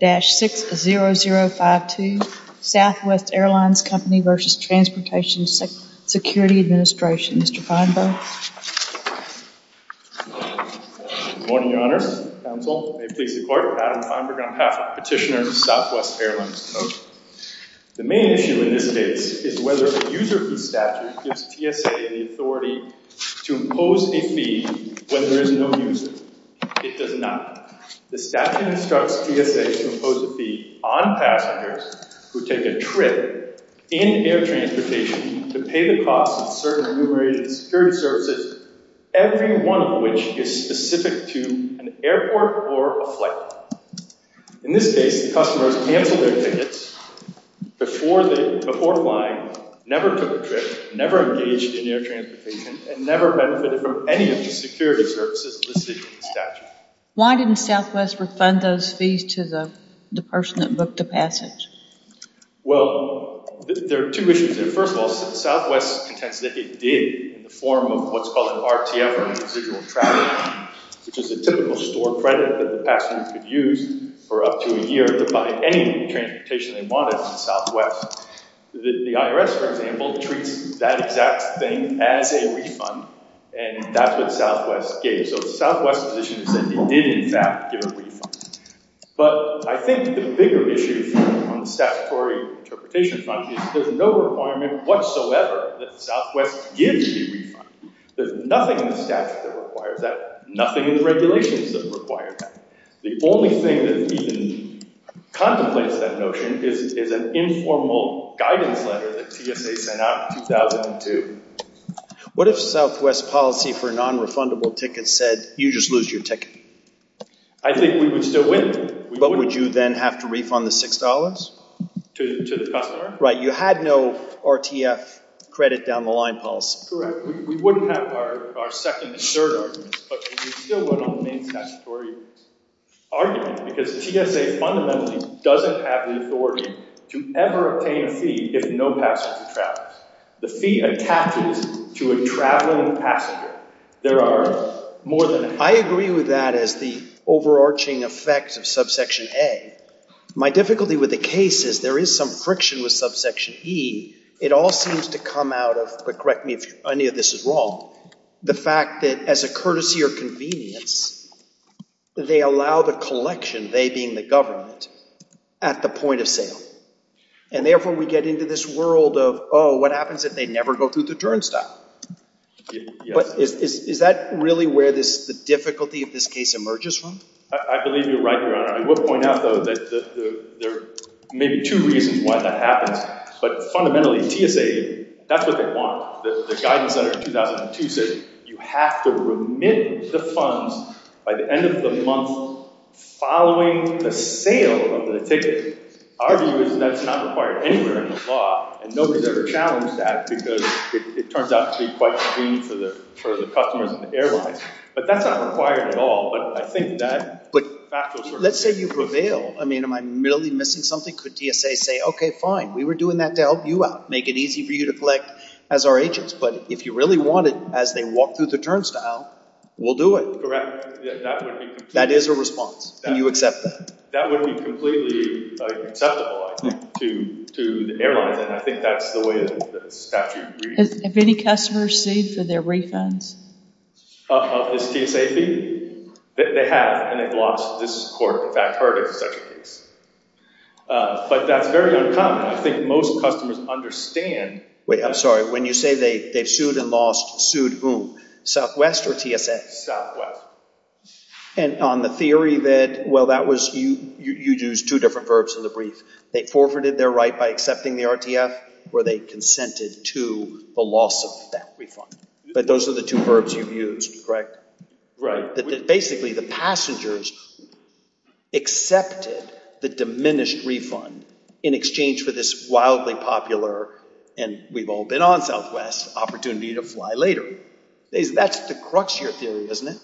dash six zero zero five two Southwest Airlines Company versus Transportation Security Administration. Mr. Feinberg. Good morning your honor, counsel, may it please the court. Adam Feinberg on behalf of Petitioner Southwest Airlines. The main issue in this case is whether a user fee statute gives TSA the authority to impose a fee when there is no user. It does not. The statute instructs TSA to impose a fee on passengers who take a trip in air transportation to pay the cost of certain enumerated security services, every one of which is specific to an airport or a flight. In this case, the customers canceled their tickets before flying, never took a trip, never engaged in air transportation, and never benefited from any of the security services listed in the statute. Why didn't Southwest refund those fees to the person that booked the passage? Well, there are two issues there. First of all, Southwest contends that it did in the form of what's called an RTF or residual travel, which is a typical store credit that the passenger could use for up to a year to buy any transportation they wanted in Southwest. The IRS, for example, treats that exact thing as a refund, and that's what Southwest gave. So Southwest's position is that they did, in fact, give a refund. But I think the bigger issue on the statutory interpretation front is there's no requirement whatsoever that Southwest gives a refund. There's nothing in the statute that requires that, nothing in the regulations that require that. The only thing that even contemplates that notion is an informal guidance letter that TSA sent out in 2002. What if Southwest's policy for non-refundable tickets said, you just lose your ticket? I think we would still win. But would you then have to refund the $6? To the customer. Right. You had no RTF credit down the line policy. Correct. We wouldn't have our second and third arguments, but we would still vote on the main statutory argument, because TSA fundamentally doesn't have the authority to ever obtain a fee if no passenger travels. The fee attaches to a traveling passenger. There are more than... I agree with that as the overarching effect of subsection A. My difficulty with the case is there is some friction with subsection E. It all seems to come out of, but correct me if any of this is the fact that as a courtesy or convenience, they allow the collection, they being the government, at the point of sale. And therefore, we get into this world of, oh, what happens if they never go through the turnstile? But is that really where the difficulty of this case emerges from? I believe you're right, Your Honor. I would point out, though, that there may be two reasons why that happens. But fundamentally, TSA, that's what they want. The guidance under 2002 says you have to remit the funds by the end of the month following the sale of the ticket. Our view is that's not required anywhere in the law, and nobody's ever challenged that, because it turns out to be quite convenient for the customers and the airlines. But that's not required at all. But I think that... Let's say you prevail. I mean, am I really missing something? Could TSA say, okay, fine, we were doing that to help you out, make it easy for you to collect as our agents. But if you really want it as they walk through the turnstile, we'll do it. That is a response. Can you accept that? That would be completely acceptable, I think, to the airlines. And I think that's the way that the statute reads. Have any customers seen for their refunds? Of this TSA fee? They have, and they've lost. This court, in fact, has never heard of such a case. But that's very uncommon. I think most customers understand... Wait, I'm sorry. When you say they've sued and lost, sued whom? Southwest or TSA? Southwest. And on the theory that, well, that was... You used two different verbs in the brief. They forfeited their right by accepting the RTF, or they consented to the loss of that refund. But those are the two verbs you've used, correct? Right. Basically, the passengers accepted the diminished refund in exchange for this wildly popular, and we've all been on Southwest, opportunity to fly later. That's the crux of your theory, isn't it?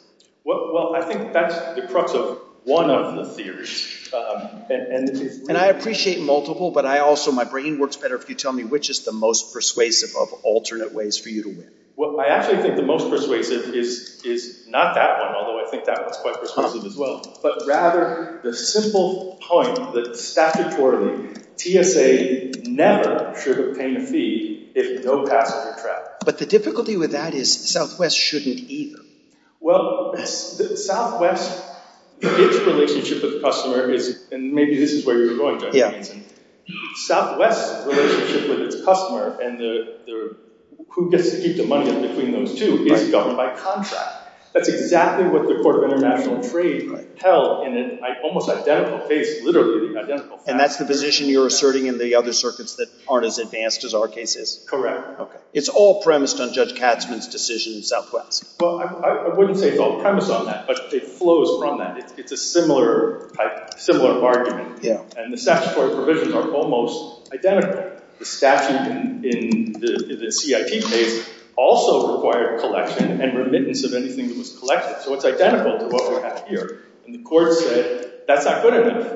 Well, I think that's the crux of one of the theories. And I appreciate multiple, but I also, my brain works better if you tell me which is the most persuasive of alternate ways for you to win. Well, I actually think the most persuasive is not that one, although I think that one's quite persuasive as well, but rather the simple point that statutorily, TSA never should obtain a fee if no passenger traveled. But the difficulty with that is Southwest shouldn't either. Well, Southwest, its relationship with the customer is, and maybe this is where you were going, John Hansen. Southwest's relationship with its customer and who gets to keep the money in between those two is governed by contract. That's exactly what the Court of International Trade held in an almost identical case, literally identical fact. And that's the position you're asserting in the other circuits that aren't as advanced as our case is? Correct. Okay. It's all premised on Judge Katzmann's decision in Southwest. Well, I wouldn't say it's all premised on that, but it flows from that. It's a similar type, similar argument. And the statutory provisions are almost identical. The statute in the CIP case also required collection and remittance of anything that was collected. So it's identical to what we have here. And the court said, that's not good enough.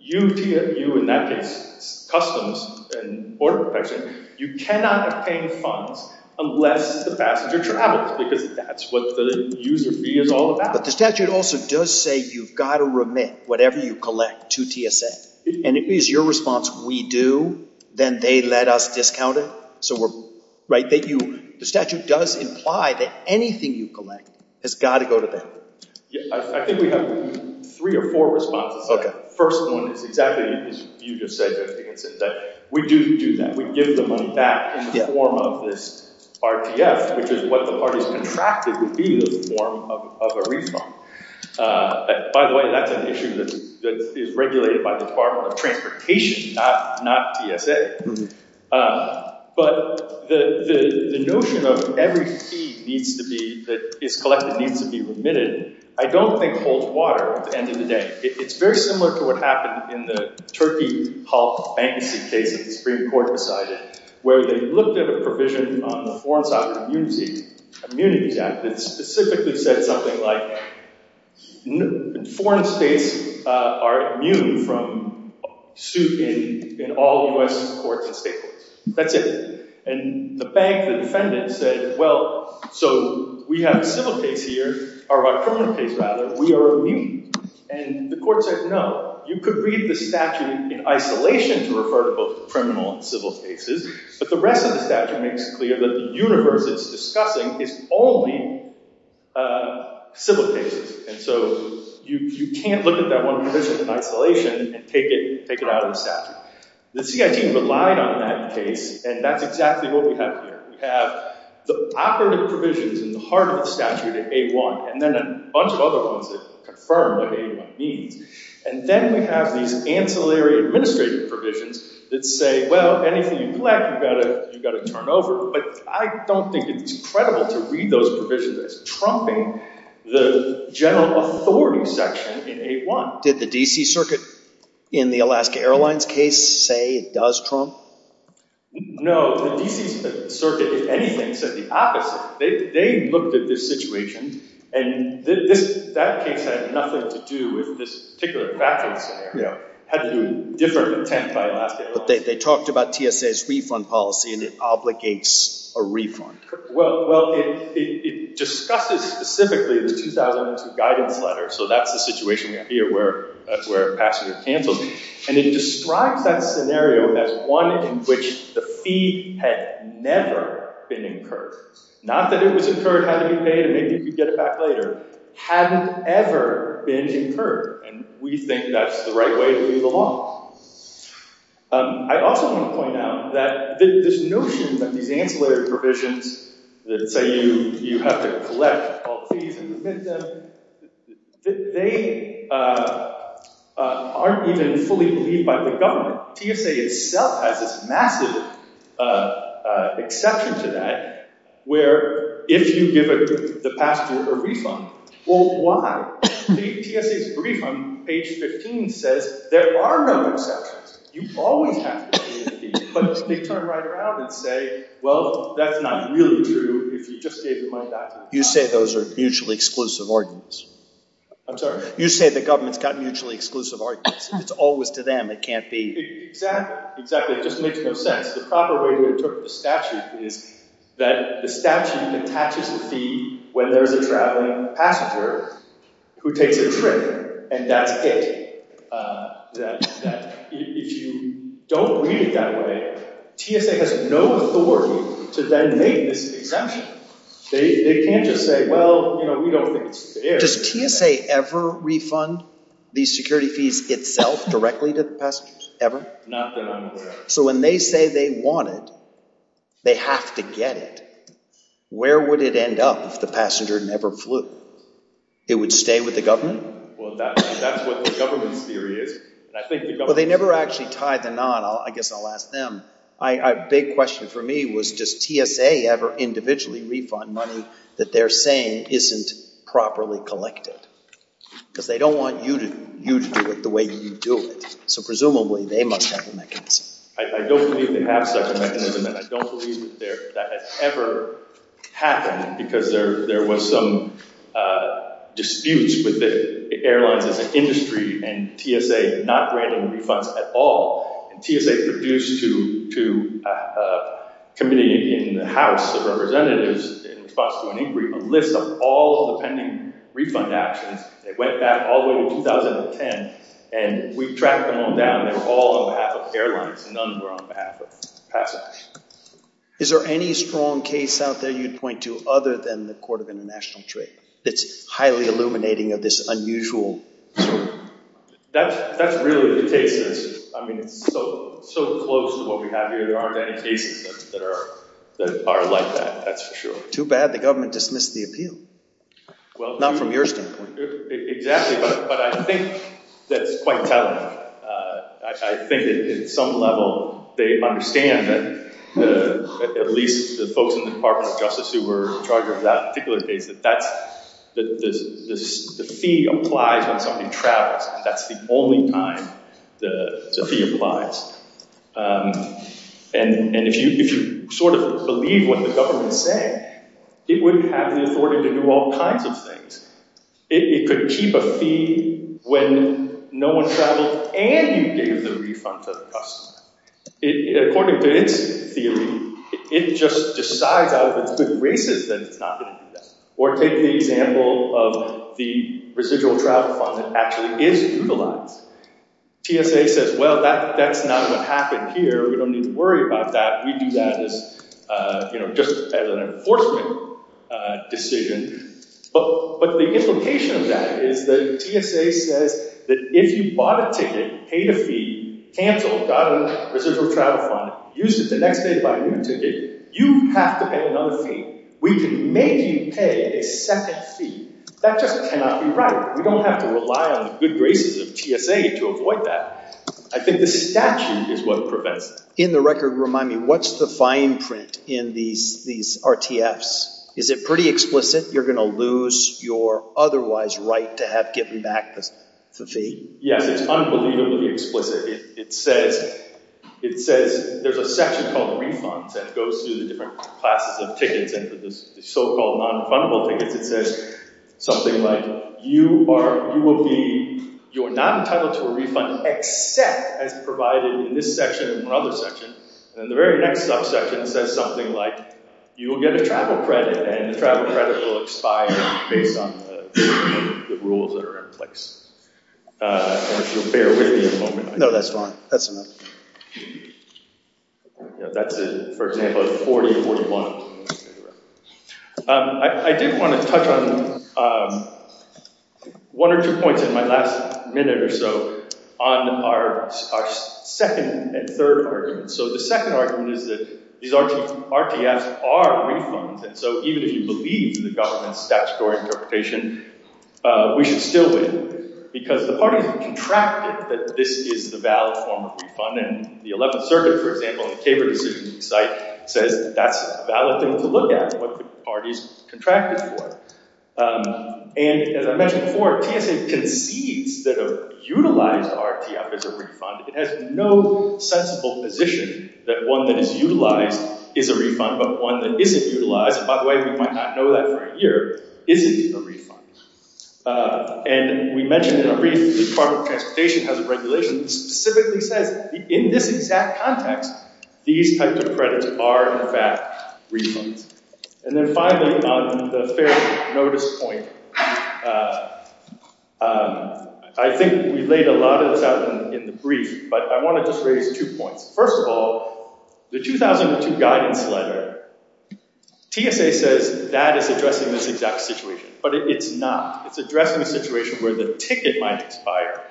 You, in that case, customs and border protection, you cannot obtain funds unless the passenger travels because that's what the user fee is all about. But the statute also does say you've got to remit whatever you collect to TSA. And if it's your response, we do, then they let us discount it. So the statute does imply that anything you collect has got to go to them. I think we have three or four responses. The first one is exactly as you just said, we do do that. We give the money back in the form of this RTF, which is what the parties contracted would be the form of a refund. By the way, that's an issue that is regulated by the Department of Transportation, not TSA. But the notion of every fee that is collected needs to be remitted, I don't think holds water at the end of the day. It's very similar to what happened in the Turkey Hull bankruptcy case that the Supreme Court decided, where they looked at a provision on the Foreign Sovereign Immunities Act that specifically said something like foreign states are immune from suit in all U.S. courts and state courts. That's it. And the bank, the defendant said, well, so we have a civil case here, or a criminal case rather, we are immune. And the court said, no, you could read the statute in isolation to refer to both civil and criminal cases, but the rest of the statute makes it clear that the universe it's discussing is only civil cases. And so you can't look at that one provision in isolation and take it out of the statute. The CIT relied on that case, and that's exactly what we have here. We have the operative provisions in the heart of the statute in A1, and then a bunch of other ones that confirm what A1 means. And then we have these ancillary administrative provisions that say, well, anything you collect, you've got to turn over. But I don't think it's credible to read those provisions as trumping the general authority section in A1. Did the D.C. Circuit in the Alaska Airlines case say it does trump? No, the D.C. Circuit, if anything, said the opposite. They looked at this situation, and that case had nothing to do with this particular bathroom scenario. It had to do with different intent by Alaska Airlines. But they talked about TSA's refund policy, and it obligates a refund. Well, it discusses specifically the 2002 guidance letter, so that's the situation we have here where a passenger cancels. And it describes that scenario as one in which the fee had never been incurred. Not that it was incurred, had to be paid, and maybe you could get it back later. Hadn't ever been incurred, and we think that's the right way to view the law. I also want to point out that this notion that these ancillary provisions that say you have to collect all the fees and remit them, they aren't even fully believed by the government. TSA itself has this massive exception to that where if you give the passenger a refund, well, why? TSA's refund, page 15, says there are no exceptions. You always have to pay the fee. But they turn right around and say, well, that's not really true if you just gave them my document. You say those are mutually exclusive ordinance? I'm sorry? You say the government's got mutually exclusive ordinance. It's always to them. It can't be... Exactly, exactly. It just makes no sense. The proper way to interpret the statute is that the statute attaches the fee when there's a traveling passenger who takes a trip, and that's it. If you don't read it that way, TSA has no authority to then make this exemption. They can't just say, well, you know, we don't think it's fair. Does TSA ever refund these security fees itself directly to the passengers? Ever? Not that I'm aware of. So when they say they want it, they have to get it. Where would it end up if the passenger never flew? It would stay with the government? Well, that's what the government's theory is. Well, they never actually tied the knot. I guess I'll ask them. A big question for me was, does TSA have a mechanism to do it the way they elected? Because they don't want you to do it the way you do it. So presumably, they must have a mechanism. I don't believe they have such a mechanism, and I don't believe that that has ever happened, because there was some disputes with the airlines as an industry and TSA not granting refunds at all. And TSA produced to a committee in the House of Representatives in response to an inquiry a list of all the pending refund actions. They went back all the way to 2010, and we tracked them all down. They were all on behalf of airlines. None were on behalf of passengers. Is there any strong case out there you'd point to other than the Court of International Trade that's highly illuminating of this unusual? That's really the case. I mean, it's so close to what we have here. There aren't any cases that are like that. That's for sure. Too bad the government dismissed the appeal, not from your standpoint. Exactly, but I think that's quite telling. I think that at some level, they understand that, at least the folks in the Department of Justice who were in charge of that particular case, that the fee applies when somebody travels. That's the only time the fee applies. And if you sort of believe what the government's saying, it wouldn't have the authority to do all kinds of things. It could keep a fee when no one traveled and you gave the refund to the customer. According to its theory, it just decides out of its good graces that it's not going to do that. Or take the example of the residual travel fund that actually is utilized. TSA says, well, that's not what happened here. We don't need to worry about that. We do that as, you know, just as an enforcement decision. But the implication of that is that TSA says that if you bought a ticket, paid a fee, canceled, got a residual travel fund, used it the next day to buy a new ticket, you have to pay another fee. We can make you pay a second fee. That just cannot be right. We don't have to rely on the good graces of TSA to avoid that. I think the statute is what prevents it. In the record, remind me, what's the fine print in these RTFs? Is it pretty explicit? You're going to lose your otherwise right to have given back the fee? Yes, it's unbelievably explicit. It says there's a section called refunds that goes through the different classes of tickets and the so-called non-refundable tickets. It says something like you are, you will be, you're not entitled to a refund except as provided in this section or other section. And the very next subsection says something like you will get a travel credit and the travel credit will expire based on the rules that are in place. If you'll bear with me a moment. No, that's fine. That's enough. Yeah, that's it. For example, 40, 41. I did want to touch on one or two points in my last minute or so on our second and third argument. So the second argument is that these RTFs are refunds. And so even if you believe the government's statutory interpretation, we should still win because the parties have contracted that this is the valid form of refund. And the 11th circuit, for example, the CABR decision site says that's a valid thing to look at what the parties contracted for. And as I mentioned before, TSA concedes that a utilized RTF is a refund. It has no sensible position that one that is utilized is a refund, but one that isn't utilized, and by the way, we might not know that for a year, isn't a refund. And we mentioned in a brief the Department of Transportation has a regulation specifically says in this exact context, these types of credits are in fact refunds. And then finally on the fair notice point, I think we laid a lot of this out in the brief, but I want to just raise two points. First of all, the 2002 guidance letter, TSA says that is addressing this exact situation, but it's not. It's addressing a situation where a ticket might expire,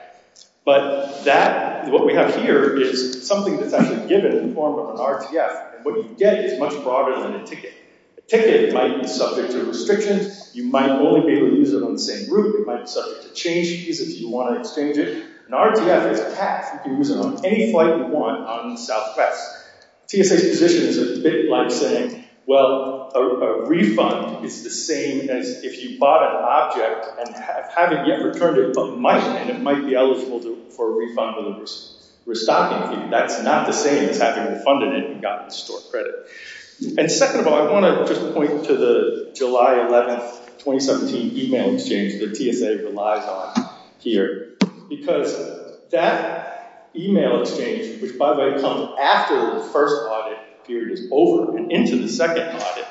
but that, what we have here is something that's actually given in the form of an RTF, and what you get is much broader than a ticket. A ticket might be subject to restrictions. You might only be able to use it on the same route. It might be subject to change fees if you want to exchange it. An RTF is a pass. You can use it on any flight you want on Southwest. TSA's position is a bit like saying, well, a refund is the same as if you bought an object and haven't yet returned it, but might, and it might be eligible for a refund on the restocking fee. That's not the same as having refunded it and gotten the store credit. And second of all, I want to just point to the July 11, 2017 email exchange that TSA relies on here, because that email exchange, which by the way comes after the first audit period is over and into the second audit.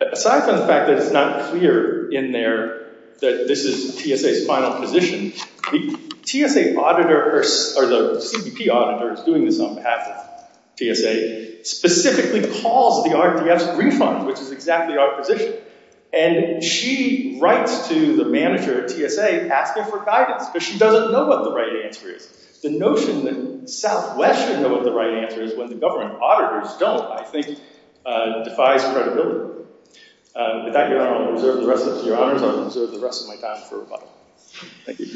Aside from the fact that it's not clear in there that this is TSA's final position, the TSA auditor, or the CBP auditor is doing this on behalf of TSA, specifically calls the RTF's refund, which is exactly our position, and she writes to the manager at TSA asking for guidance, because she doesn't know what the right answer is. The notion that Southwest doesn't know what the right answer is when the government auditors don't, I think, defies credibility. With that, Your Honor, I'm going to reserve the rest of my time for rebuttal. Thank you.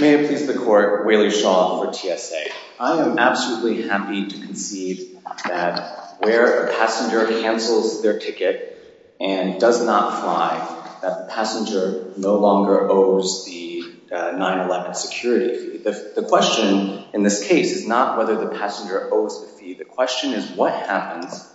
May it please the court, Whaley Shaw for TSA. I am absolutely happy to concede that where a passenger cancels their ticket and does not fly, that the passenger no longer owes the 9-11 security fee. The question in this case is not whether the passenger owes the fee, the question is what happens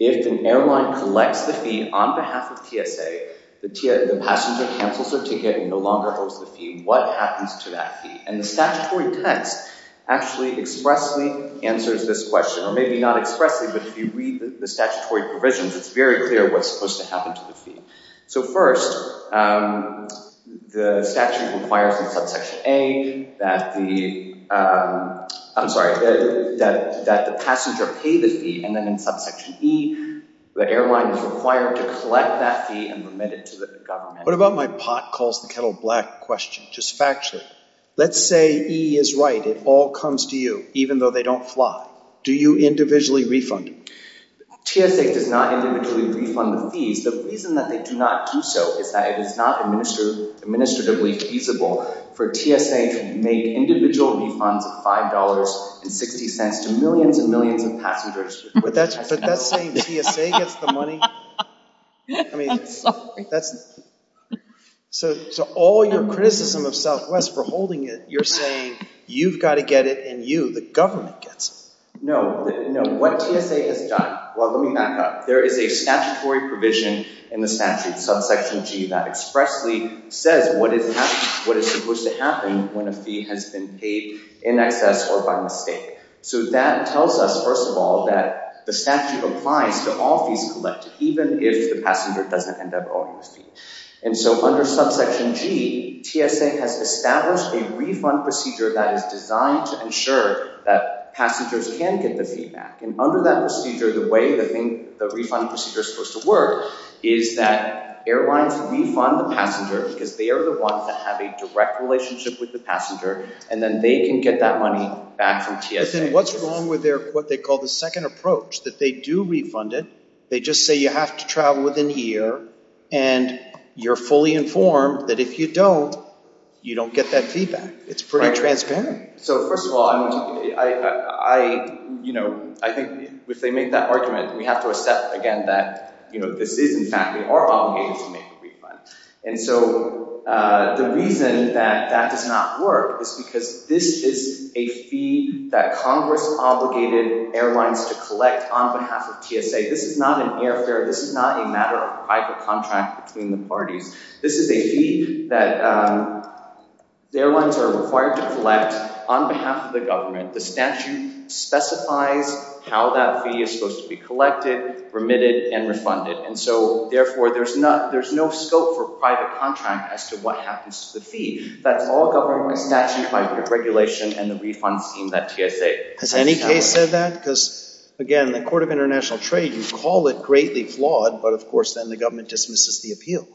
if an airline collects the fee on behalf of TSA, the passenger cancels their ticket and no longer owes the fee, what happens to that fee? And the statutory text actually expressly answers this question, or maybe not expressly, but if you read the statutory provisions, it's very clear what's supposed to happen to the fee. So first, the statute requires in subsection A that the, I'm sorry, that the passenger pay the fee, and then in subsection E, the airline is required to collect that fee and remit it to the government. What about my pot calls the kettle black question, just factually, let's say E is right, it all comes to you, even though they don't fly, do you individually refund? TSA does not individually refund the fees, the reason that they do not do so is that it is not administratively feasible for TSA to make individual refunds of five dollars and sixty cents to millions and millions of passengers. But that's saying TSA gets the money? I mean, that's, so all your criticism of Southwest for holding it, you're saying you've got to get it and you, the government, gets it. No, no, what TSA has done, well let me back up, there is a statutory provision in the statute, subsection G, that expressly says what is happening, what is supposed to happen when a fee has been paid in excess or by mistake. So that tells us, first of all, that the statute applies to all fees collected, even if the passenger doesn't end up owing the fee. And so under subsection G, TSA has established a refund procedure that is designed to ensure that passengers can get the fee back. And under that procedure, the way the thing, the refund procedure is supposed to work, is that airlines refund the passenger because they are the ones that have a direct relationship with the passenger and then they can get that money back from TSA. But then what's wrong with their, what they call the second approach, that they do refund it, they just say you have to travel within a year and you're fully informed that if you don't, you don't get that feedback. It's pretty transparent. So first of all, I, you know, I think if they make that argument, we have to accept again that, you know, this is in fact, we are obligated to make a refund. And so the reason that that does not work is because this is a fee that Congress obligated airlines to collect on behalf of TSA. This is not an airfare, this is not a matter of private contract between the parties. This is a fee that the airlines are required to collect on behalf of the government. The statute specifies how that fee is supposed to be collected, remitted, and refunded. And so therefore there's not, there's no scope for private contract as to what happens to the fee. That's all government statute by regulation and the refund scheme that TSA. Has any case said that? Because again, the court of international trade, you call it greatly flawed, but of course then the government dismisses the appeal.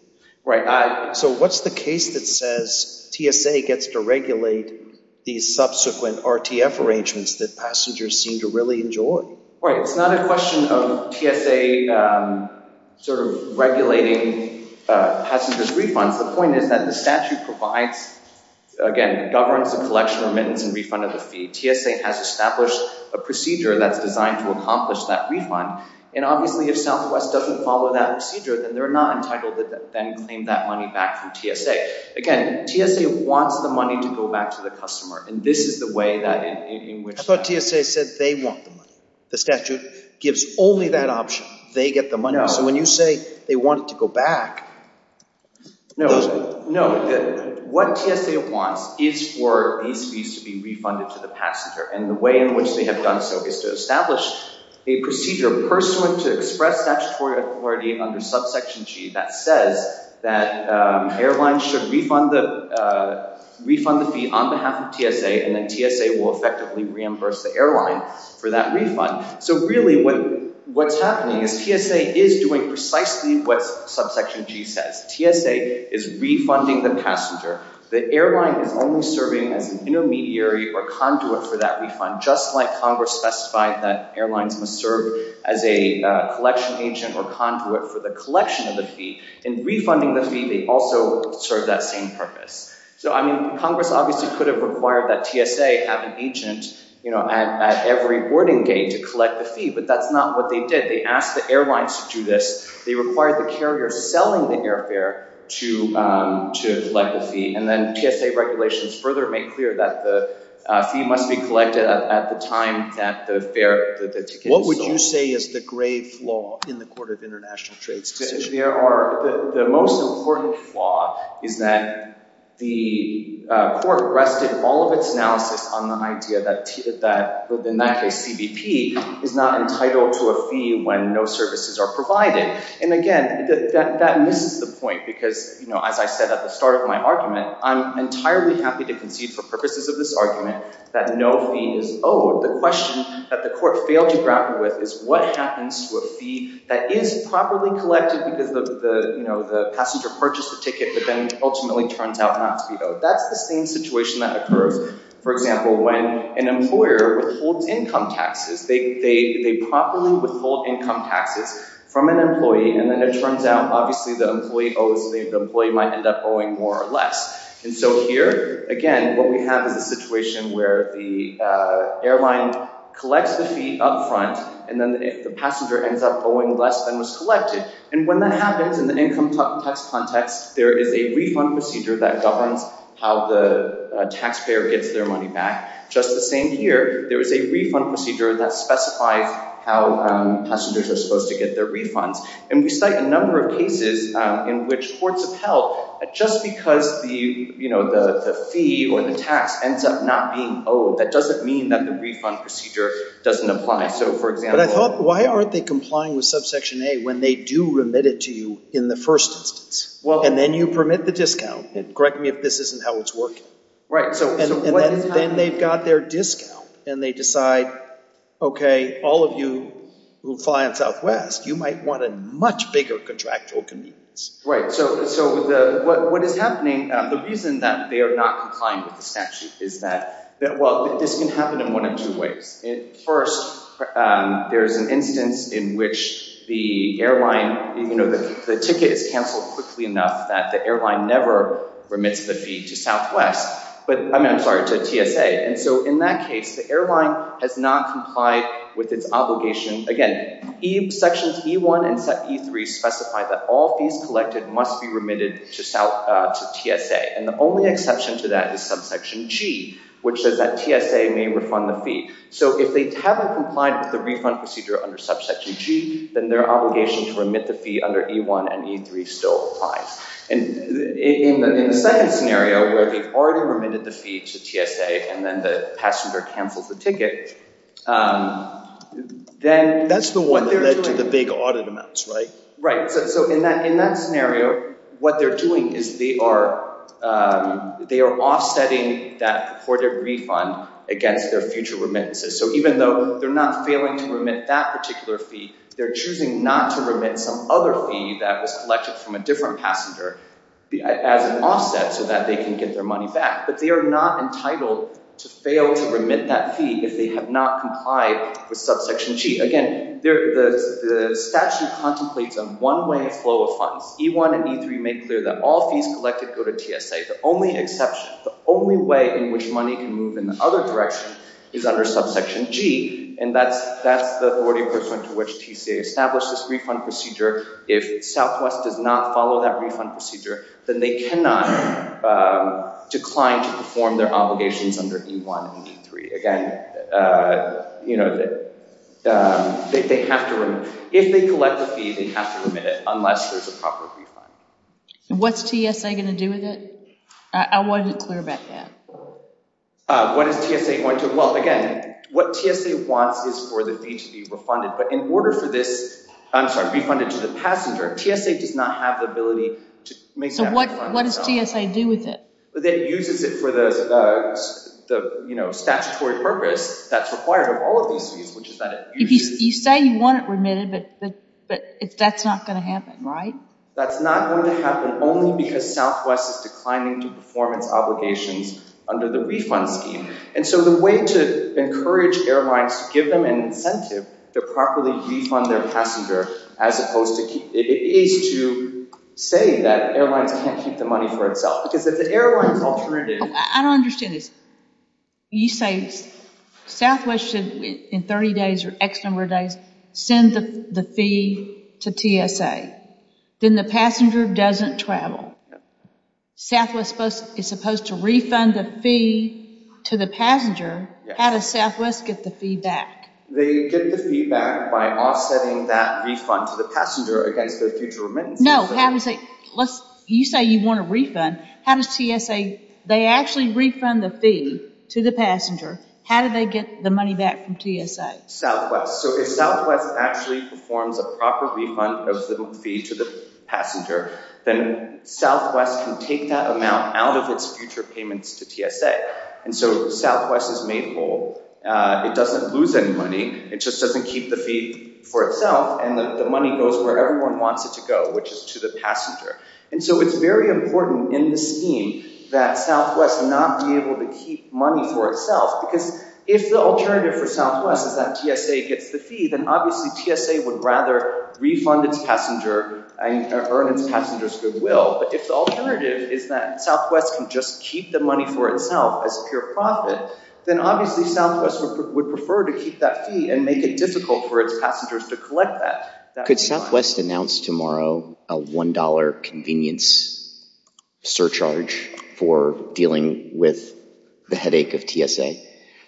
Right. So what's the case that says TSA gets to regulate these subsequent RTF arrangements that passengers seem to really enjoy? Right. It's not a question of TSA, um, sort of regulating, uh, passengers refunds. The point is that the statute provides again, governs the collection remittance and refund of the fee. TSA has established a procedure that's designed to accomplish that refund. And obviously if Southwest doesn't follow that procedure, then they're not entitled to then claim that money back from TSA. Again, TSA wants the money to go back to the customer. And this is the way that in which TSA said they want the money. The statute gives only that option. They get the money. So when you say they want it to go back. No, no. What TSA wants is for these fees to be refunded to the passenger and the way in which they have done so is to establish a procedure pursuant to express statutory authority under subsection G that says that, um, airlines should refund the, uh, refund the fee on behalf of TSA and then TSA will effectively reimburse the airline for that refund. So really what, what's happening is TSA is doing precisely what's subsection G says. TSA is refunding the passenger. The airline is only serving as an intermediary or conduit for that refund, just like Congress specified that airlines must serve as a collection agent or conduit for the collection of the fee and refunding the fee. They also serve that same purpose. So, I mean, Congress obviously could have required that TSA have an agent, you know, at every boarding gate to collect the fee, but that's not what they did. They asked the airlines to do this. They required the carrier selling the airfare to, um, to collect the fee. And then TSA regulations further make clear that the fee must be collected at the time that the fare, the ticket is sold. What would you say is the grave flaw in the court of international trades decision? The most important flaw is that the court rested all of its analysis on the idea that, that within that case, CBP is not entitled to a fee when no services are provided. And again, that misses the point because, you know, as I said, at the start of my argument, I'm entirely happy to concede for purposes of this argument that no fee is owed. The question that the court failed to grapple with is what happens to a fee that is properly collected because the, the, you know, the passenger purchased the ticket, but then ultimately turns out not to be owed. That's the same situation that occurs. For example, when an employer withholds income taxes, they, they, they properly withhold income taxes from an employee. And then it turns out, obviously the employee owes, the employee might end up owing more or less. And so here, again, what we have is a situation where the airline collects the fee upfront, and then the passenger ends up owing less than was collected. And when that happens in the income tax context, there is a refund procedure that governs how the taxpayer gets their money back. Just the same here, there is a refund procedure that specifies how passengers are supposed to get their refunds. And we cite a number of cases in which courts have held that just because the, you know, the fee or the tax ends up not being owed, that doesn't mean that the refund procedure doesn't apply. So for example... But I thought, why aren't they complying with subsection A when they do remit it to you in the first instance? And then you permit the discount. Correct me if this isn't how it's working. Right. And then they've got their discount and they decide, okay, all of you who fly on Southwest, you might want a much bigger contractual convenience. Right. So, so the, what, what is happening, the reason that they are not complying with the first, there's an instance in which the airline, you know, the ticket is canceled quickly enough that the airline never remits the fee to Southwest, but I'm sorry, to TSA. And so in that case, the airline has not complied with its obligation. Again, sections E1 and E3 specify that all fees collected must be remitted to TSA. And the only exception to that is subsection G, which says that TSA may refund the fee. So if they haven't complied with the refund procedure under subsection G, then their obligation to remit the fee under E1 and E3 still applies. And in the, in the second scenario where they've already remitted the fee to TSA and then the passenger cancels the ticket, then... That's the one that led to the big audit amounts, right? Right. So, so in that, in that scenario, what they're doing is they are, um, they are offsetting that purported refund against their future remittances. So even though they're not failing to remit that particular fee, they're choosing not to remit some other fee that was collected from a different passenger as an offset so that they can get their money back. But they are not entitled to fail to remit that fee if they have not complied with subsection G. Again, the statute contemplates a one-way flow of funds. E1 and E3 make clear that all fees collected go to TSA. The only exception, the only way in which money can move in the other direction is under subsection G, and that's, that's the authority pursuant to which TSA established this refund procedure. If Southwest does not follow that refund procedure, then they cannot, um, decline to perform their obligations under E1 and E3. Again, uh, you know, they, they have to, if they collect the fee, they have to remit it unless there's a proper refund. What's TSA going to do with it? I, I wanted it clear about that. Uh, what is TSA going to, well, again, what TSA wants is for the fee to be refunded, but in order for this, I'm sorry, refunded to the passenger, TSA does not have the ability to make. So what, what does TSA do with it? It uses it for the, uh, the, you know, statutory purpose that's required of all of these fees, which is that. You say you want it remitted, but, but, but that's not going to happen, right? That's not going to happen only because Southwest is declining to performance obligations under the refund scheme. And so the way to encourage airlines to give them an incentive to properly refund their passenger, as opposed to keep, it is to say that airlines can't keep the money for itself because if the airline's alternative. I don't understand this. You say Southwest should, in 30 days or X number of days, send the fee to TSA, then the passenger doesn't travel. Southwest is supposed to refund the fee to the passenger. How does Southwest get the fee back? They get the fee back by offsetting that refund to the passenger against their future remittances. No, how does it, let's, you say you want a refund. How does TSA, they actually refund the fee to the passenger? How do they get the money back from TSA? Southwest. So if Southwest actually performs a proper refund of the fee to the passenger, then Southwest can take that amount out of its future payments to TSA. And so Southwest is made whole. Uh, it doesn't lose any money. It just doesn't keep the fee for itself. And the money goes where everyone wants it to go, which is to the passenger. And so it's very important in the scheme that Southwest not be able to keep money for itself because if the alternative for Southwest is that TSA gets the fee, then obviously TSA would rather refund its passenger and earn its passengers goodwill. But if the alternative is that Southwest can just keep the money for itself as a pure profit, then obviously Southwest would prefer to keep that fee and make it difficult for its passengers to collect that. Could Southwest announce tomorrow a $1 convenience surcharge for dealing with the headache of TSA?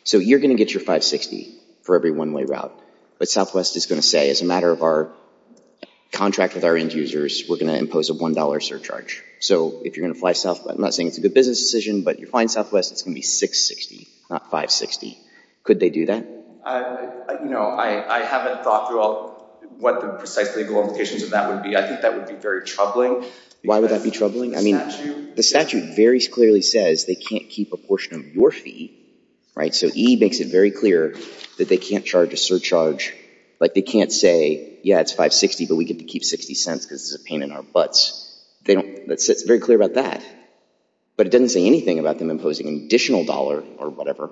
So you're going to get your 560 for every one-way route, but Southwest is going to say as a matter of our contract with our end users, we're going to impose a $1 surcharge. So if you're going to fly Southwest, I'm not saying it's a good business decision, but you're flying Southwest, it's going to be 660, not 560. Could they do that? Uh, you know, I, I haven't thought about what the precise legal implications of that would be. I think that would be very troubling. Why would that be troubling? I mean, the statute very clearly says they can't keep a portion of your fee, right? So E makes it very clear that they can't charge a surcharge. Like they can't say, yeah, it's 560, but we get to keep 60 cents because it's a pain in our butts. They don't, it's very clear about that, but it doesn't say anything about them imposing an additional dollar or whatever.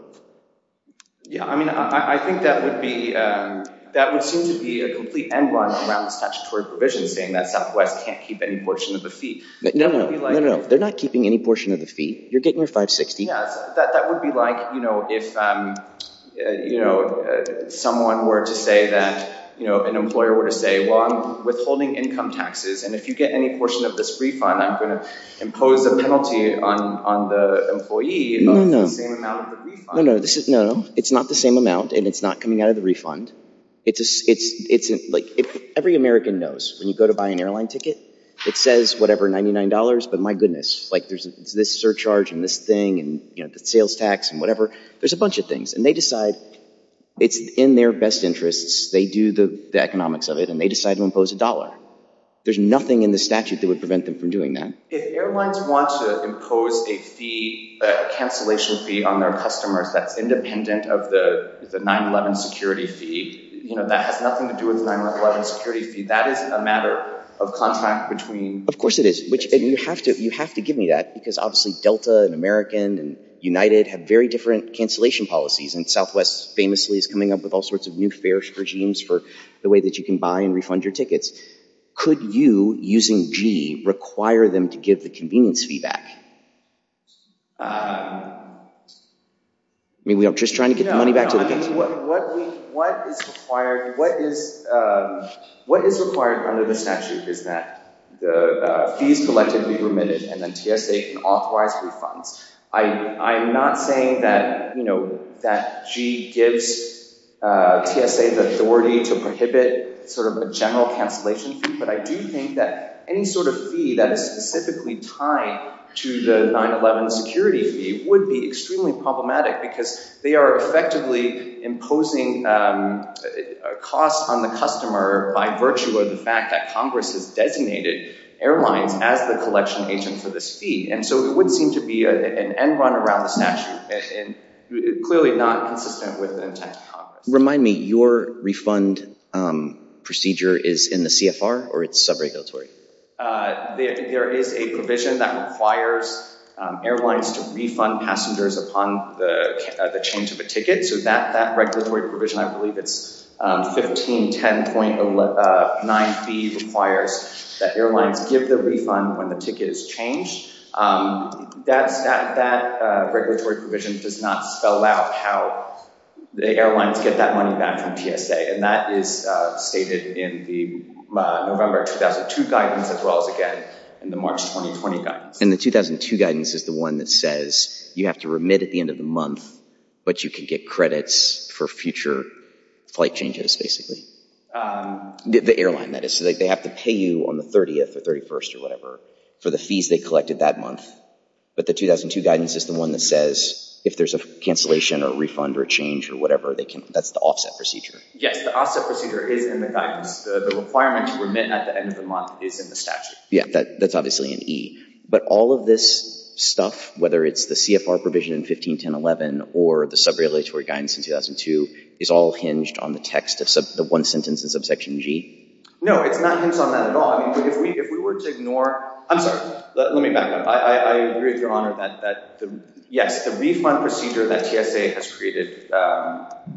Yeah. I mean, I, I think that would be, um, that would seem to be a complete end run around the statutory provision saying that Southwest can't keep any portion of the fee. No, no, no, no, no. They're not keeping any portion of the fee. You're getting your 560. Yeah. That, that would be like, you know, if, um, uh, you know, uh, someone were to say that, you know, an employer were to say, well, I'm withholding income taxes. And if you get any portion of this refund, I'm going to impose a penalty on, on the employee. No, no, no, no, no. It's not the same amount and it's not coming out of the refund. It's a, it's, it's like every American knows when you go to buy an airline ticket, it says whatever, $99. But my goodness, like there's this surcharge and this thing and, you know, the sales tax and whatever, there's a bunch of things and they decide it's in their best interests. They do the economics of it There's nothing in the statute that would prevent them from doing that. If airlines want to impose a fee, a cancellation fee on their customers, that's independent of the 9-11 security fee, you know, that has nothing to do with the 9-11 security fee. That is a matter of contract between. Of course it is, which you have to, you have to give me that because obviously Delta and American and United have very different cancellation policies. And Southwest famously is coming up with all sorts of new fare regimes for the way that you can buy and refund your tickets. Could you, using G, require them to give the convenience fee back? I mean, we are just trying to get the money back. What is required, what is, what is required under the statute is that the fees collected be remitted and then TSA can authorize refunds. I, I'm not saying that, you know, that G gives a TSA the authority to prohibit sort of a general cancellation fee, but I do think that any sort of fee that is specifically tied to the 9-11 security fee would be extremely problematic because they are effectively imposing a cost on the customer by virtue of the fact that Congress has designated airlines as the collection agent for this fee. And so it would seem to be an end around the statute and clearly not consistent with the intent of Congress. Remind me, your refund procedure is in the CFR or it's sub-regulatory? There is a provision that requires airlines to refund passengers upon the change of a ticket. So that, that regulatory provision, I believe it's 1510.9B requires that airlines give the refund when the ticket is changed. That's, that, that regulatory provision does not spell out how the airlines get that money back from TSA. And that is stated in the November 2002 guidance, as well as again in the March 2020 guidance. And the 2002 guidance is the one that says you have to remit at the end of the month, but you can get credits for future flight changes, basically. The airline, that is. So they have to pay you on the 30th or 31st or whatever for the fees they collected that month. But the 2002 guidance is the one that says if there's a cancellation or refund or change or whatever, they can, that's the offset procedure. Yes, the offset procedure is in the guidance. The requirement to remit at the end of the month is in the statute. Yeah, that's obviously an E. But all of this stuff, whether it's the CFR provision in 1510.11 or the subrelatory guidance in 2002 is all hinged on the text of the one sentence in subsection G? No, it's not hinged on that at all. I mean, if we, if we were to ignore, I'm sorry, let me back up. I agree with your Honor that, that the, yes, the refund procedure that TSA has created,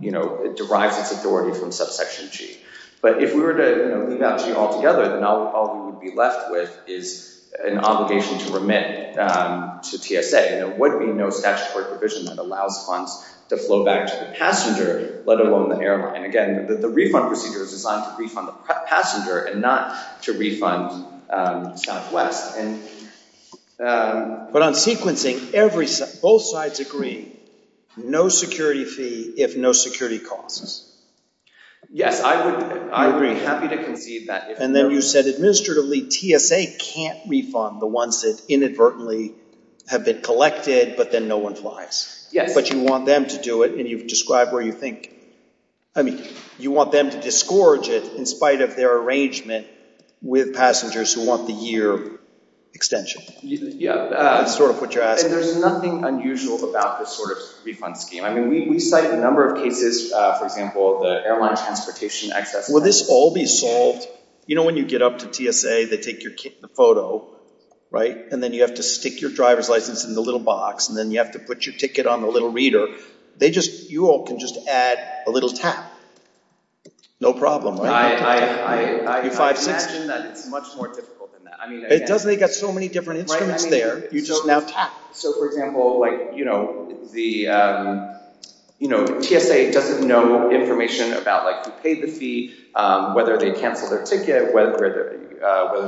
you know, it derives its authority from subsection G. But if we were to, you know, leave out G altogether, then all we would be left with is an obligation to remit to TSA. And there would be no statutory provision that allows funds to flow back to the passenger, let alone the airline. And again, the refund procedure is designed to refund the passenger and not to refund Southwest. But on sequencing, every, both sides agree, no security fee if no security costs. Yes, I would, I agree, happy to concede that. And then you said administratively, TSA can't refund the ones that inadvertently have been collected, but then no one flies. Yes. But you want them to do it. And you've described where you think, I mean, you want them to disgorge it in spite of their arrangement with passengers who want the year extension. Yeah. That's sort of what you're asking. There's nothing unusual about this sort of refund scheme. I mean, we cite a number of cases, for example, the airline transportation access. Will this all be solved? You know, when you get up to TSA, they take your photo, right? And then you have to stick your driver's license in the little box. And then you have to put your ticket on the little reader. They just, you all can just add a little tap. No problem. I imagine that it's much more difficult than that. I mean, it doesn't, they got so many different instruments there. So for example, like, you know, the, you know, TSA doesn't know information about who paid the fee, whether they canceled their ticket, whether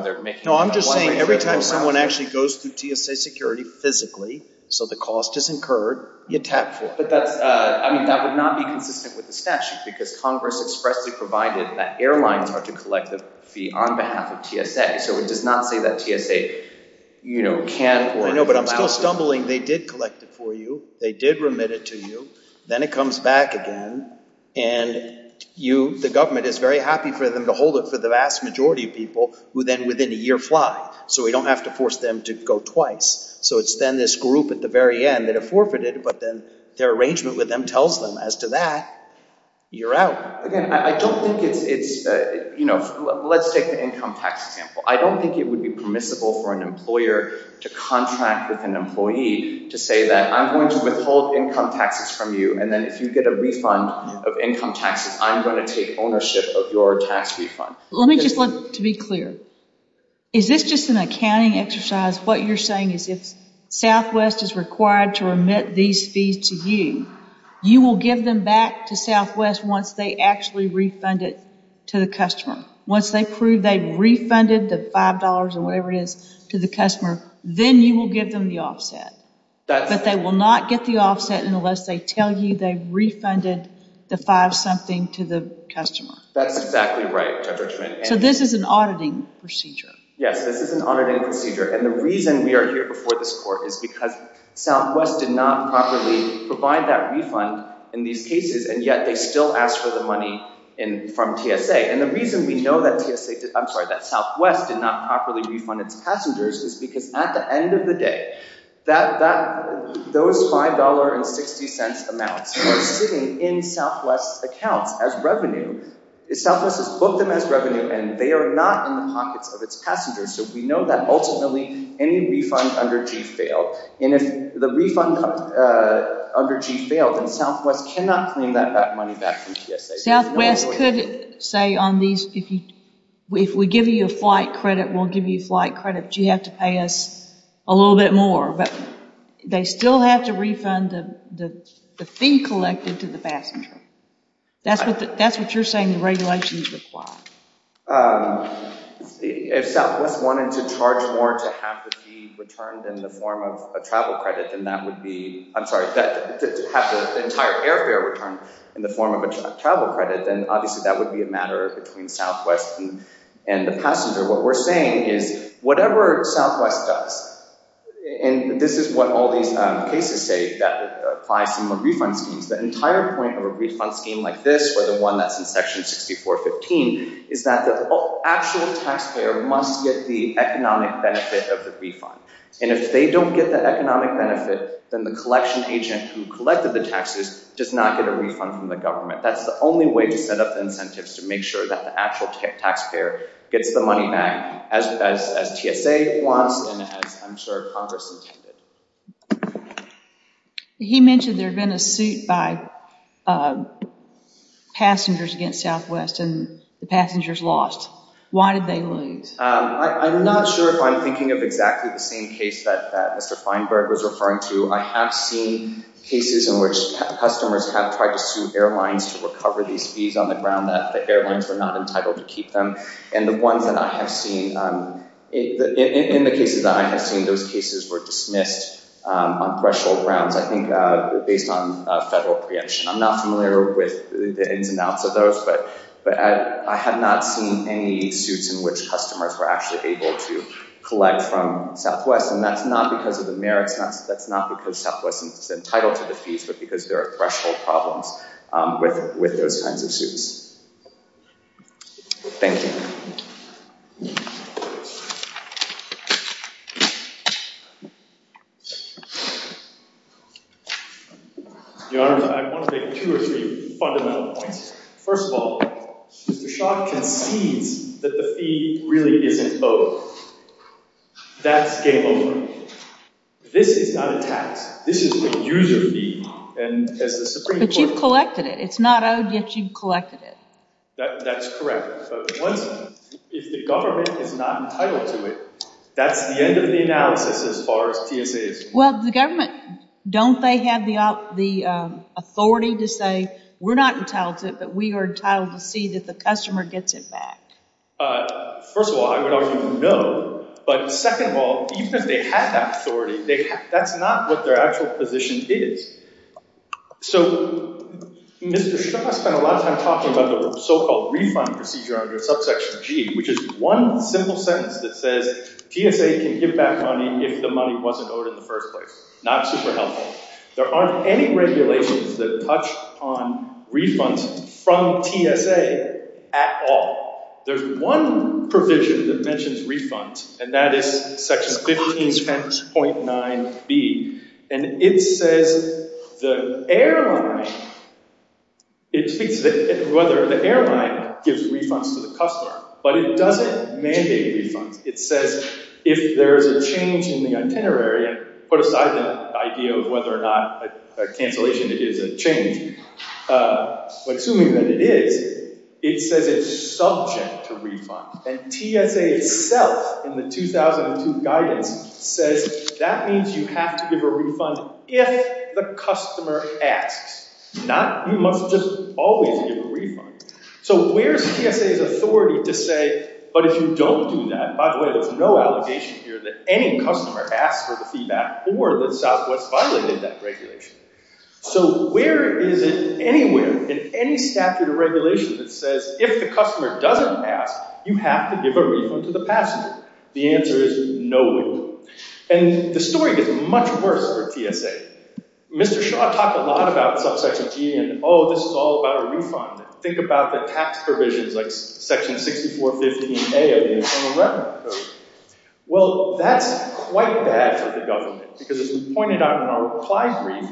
they're making it. No, I'm just saying every time someone actually goes through TSA security physically, so the cost is incurred, you tap for it. But that's, I mean, that would not be consistent with the statute because Congress expressly provided that airlines are to collect the fee on behalf of TSA. So it does not say that TSA, you know, can't. I know, but I'm still stumbling. They did collect it for you. They did remit it to you. Then it comes back again. And you, the government is very happy for them to hold it for the vast majority of people who then within a year fly. So we don't have to force them to go twice. So it's then this group at the very end that have forfeited, but then their arrangement with them tells them as to that, you're out. Again, I don't think it's, you know, let's take the income tax example. I don't think it would be permissible for an employer to contract with an employee to say that I'm going to withhold income taxes from you. And then if you get a refund of income taxes, I'm going to take ownership of your tax refund. Let me just, to be clear, is this just an accounting exercise? What you're saying is if Southwest is required to remit these fees to you, you will give them back to Southwest once they actually refund it to the customer. Once they prove they've refunded the $5 or whatever it is to the customer, then you will give them the offset. But they will not get the offset unless they tell you they've refunded the five something to the customer. That's exactly right, Judge Richmond. So this is an auditing procedure. Yes, this is an auditing procedure. And the reason we are here before this court is because Southwest did not properly provide that refund in these cases. And yet they still asked for the refund. The reason that Southwest did not properly refund its passengers is because at the end of the day, those $5.60 amounts are sitting in Southwest's accounts as revenue. Southwest has booked them as revenue and they are not in the pockets of its passengers. So we know that ultimately any refund under G failed. And if the refund under G failed, then Southwest cannot claim that money back from Southwest. Southwest could say on these, if we give you a flight credit, we'll give you flight credit, but you have to pay us a little bit more. But they still have to refund the fee collected to the passenger. That's what you're saying the regulations require. If Southwest wanted to charge more to have the fee returned in the form of a travel credit, then that would be, I'm sorry, have the entire airfare returned in the form of a travel credit, then obviously that would be a matter between Southwest and the passenger. What we're saying is whatever Southwest does, and this is what all these cases say that apply similar refund schemes, the entire point of a refund scheme like this or the one that's in section 6415 is that the actual taxpayer must get the economic benefit of the refund. And if they don't get the economic benefit, then the collection agent who collected the taxes does not get a refund from the government. That's the only way to set up incentives to make sure that the actual taxpayer gets the money back as TSA wants and as I'm sure Congress intended. He mentioned there's been a suit by passengers against Southwest and the passengers lost. Why did they lose? I'm not sure if I'm referring to, I have seen cases in which customers have tried to sue airlines to recover these fees on the ground that the airlines were not entitled to keep them. And the ones that I have seen, in the cases that I have seen, those cases were dismissed on threshold grounds, I think, based on federal preemption. I'm not familiar with the ins and outs of those, but I have not seen any suits in which customers were actually able to collect from Southwest. And that's not because of the merits, that's not because Southwest is entitled to the fees, but because there are threshold problems with those kinds of suits. Thank you. Your Honor, I want to make two or three fundamental points. First of all, Mr. Shaw concedes that the fee really isn't owed. That's game over. This is not a tax, this is a user fee. But you've collected it, it's not owed yet you've collected it. That's correct. But one sentence, if the government is not entitled to it, that's the end of the analysis as far as TSA is concerned. Well, the government, don't they have the authority to say, we're not entitled to it, but we are entitled to see that the customer gets it back? First of all, I would argue no. But second of all, even if they had that authority, that's not what their actual position is. So Mr. Shaw spent a lot of time talking about the so-called refund procedure under subsection G, which is one simple sentence that says TSA can give back money if the money wasn't owed in the first place. Not super helpful. There aren't any regulations that touch on refunds from TSA at all. There's one provision that mentions refunds, and that is section 15.9b. And it says the airline, it speaks to whether the airline gives refunds to the customer, but it doesn't mandate refunds. It says if there's a change in the itinerary, and put aside the idea of whether or not a cancellation is a change, but assuming that it is, it says it's subject to refund. And TSA itself in the 2002 guidance says that means you have to give a refund if the customer asks. You must just always give a refund. So where's TSA's authority to say, but if you don't do that, by the way, there's no obligation here that any customer asks for the feedback or that Southwest violated that regulation. So where is it anywhere in any statute or regulation that says if the customer doesn't ask, you have to give a refund to the passenger? The answer is no, we don't. And the story gets much worse for TSA. Mr. Shaw talked a lot about subsection G, and oh, this is all about a refund. Think about the tax provisions like section 6415A of the Internal Revenue Code. Well, that's quite bad for the government because as we pointed out in our reply brief,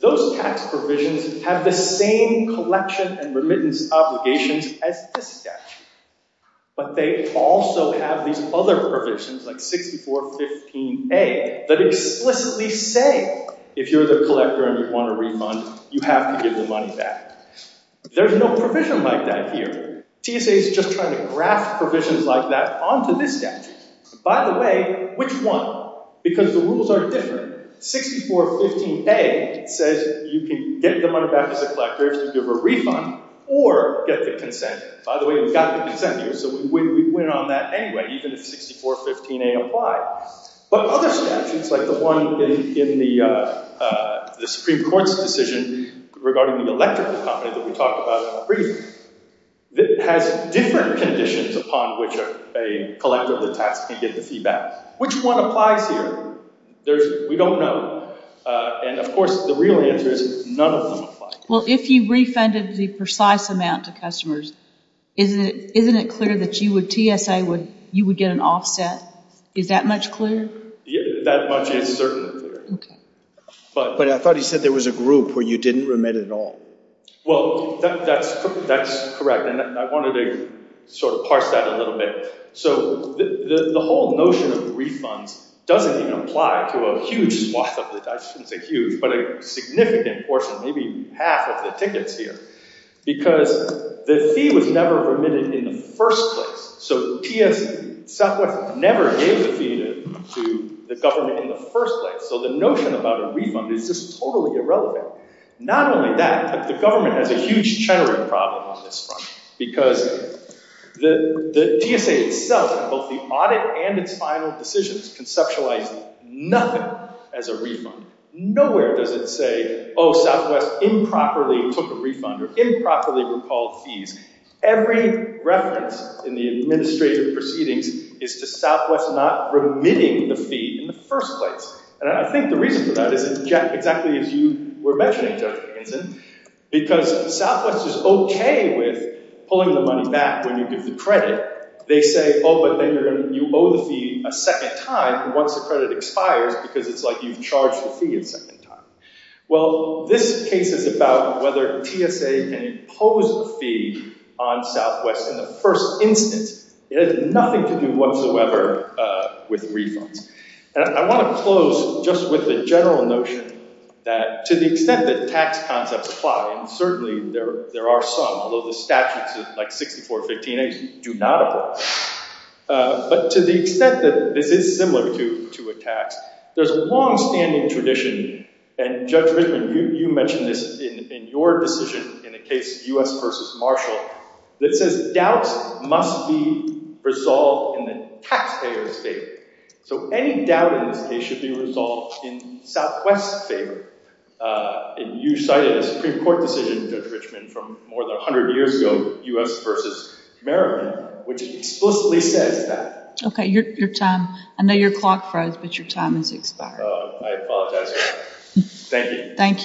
those tax provisions have the same collection and remittance obligations as this statute, but they also have these other provisions like 6415A that explicitly say if you're the collector and you want a refund, you have to give the money back. There's no provision like that here. TSA is just trying to graft provisions like that onto this statute. By the way, which one? Because the rules are different. 6415A says you can get the money back to the collector if you give a refund or get the consent. By the way, we've got the consent here, so we went on that anyway, even if 6415A applied. But other statutes like the one in the Supreme Court's decision regarding the electrical company that we talked about in our brief has different conditions upon which a collector of the tax can get the fee back. Which one applies here, we don't know. And of course, the real answer is none of them apply. Well, if you refunded the precise amount to customers, isn't it clear that you would, TSA would, you would get an offset? Is that much clear? That much is certainly clear. But I thought he said there was a group where you didn't remit at all. Well, that's correct, and I wanted to sort of parse that a little bit. So the whole notion of refunds doesn't even apply to a huge swath of the, I shouldn't say huge, but a significant portion, maybe half of the tickets here, because the fee was never remitted in the first place. So TSA, Southwest never gave the fee to the government in the first place, so the notion about a refund is just totally irrelevant. Not only that, but the government has a huge cheddering problem on this front, because the TSA itself and both the audit and its final decisions conceptualize nothing as a refund. Nowhere does it say, oh, Southwest improperly took a refund or improperly recalled fees. Every reference in the administrative proceedings is to Southwest not remitting the fee in the first place. And I think the reason for that is exactly as you were mentioning, Judge Dickinson, because Southwest is okay with pulling the money back when you give the credit. They say, oh, but then you owe the fee a second time, and once the credit expires, because it's like you've charged the fee a second time. Well, this case is about whether TSA can impose a fee on Southwest in the first instance. It has nothing to do whatsoever with refunds. And I want to close just with the general notion that to the extent that tax concepts apply, and certainly there are some, although the statutes of like 6415A do not apply, but to the extent that this is similar to a tax, there's a long-standing tradition, and Judge Richman, you mentioned this in your decision in the case U.S. v. Marshall, that says doubts must be resolved in the taxpayer's favor. So any doubt in this case should be resolved in Southwest's favor. And you cited a Supreme Court decision, Judge Richman, from more than 100 years ago, U.S. v. Maryland, which explicitly says that. Okay, your time. I know your clock froze, but your time has expired. I apologize. Thank you. Thank you.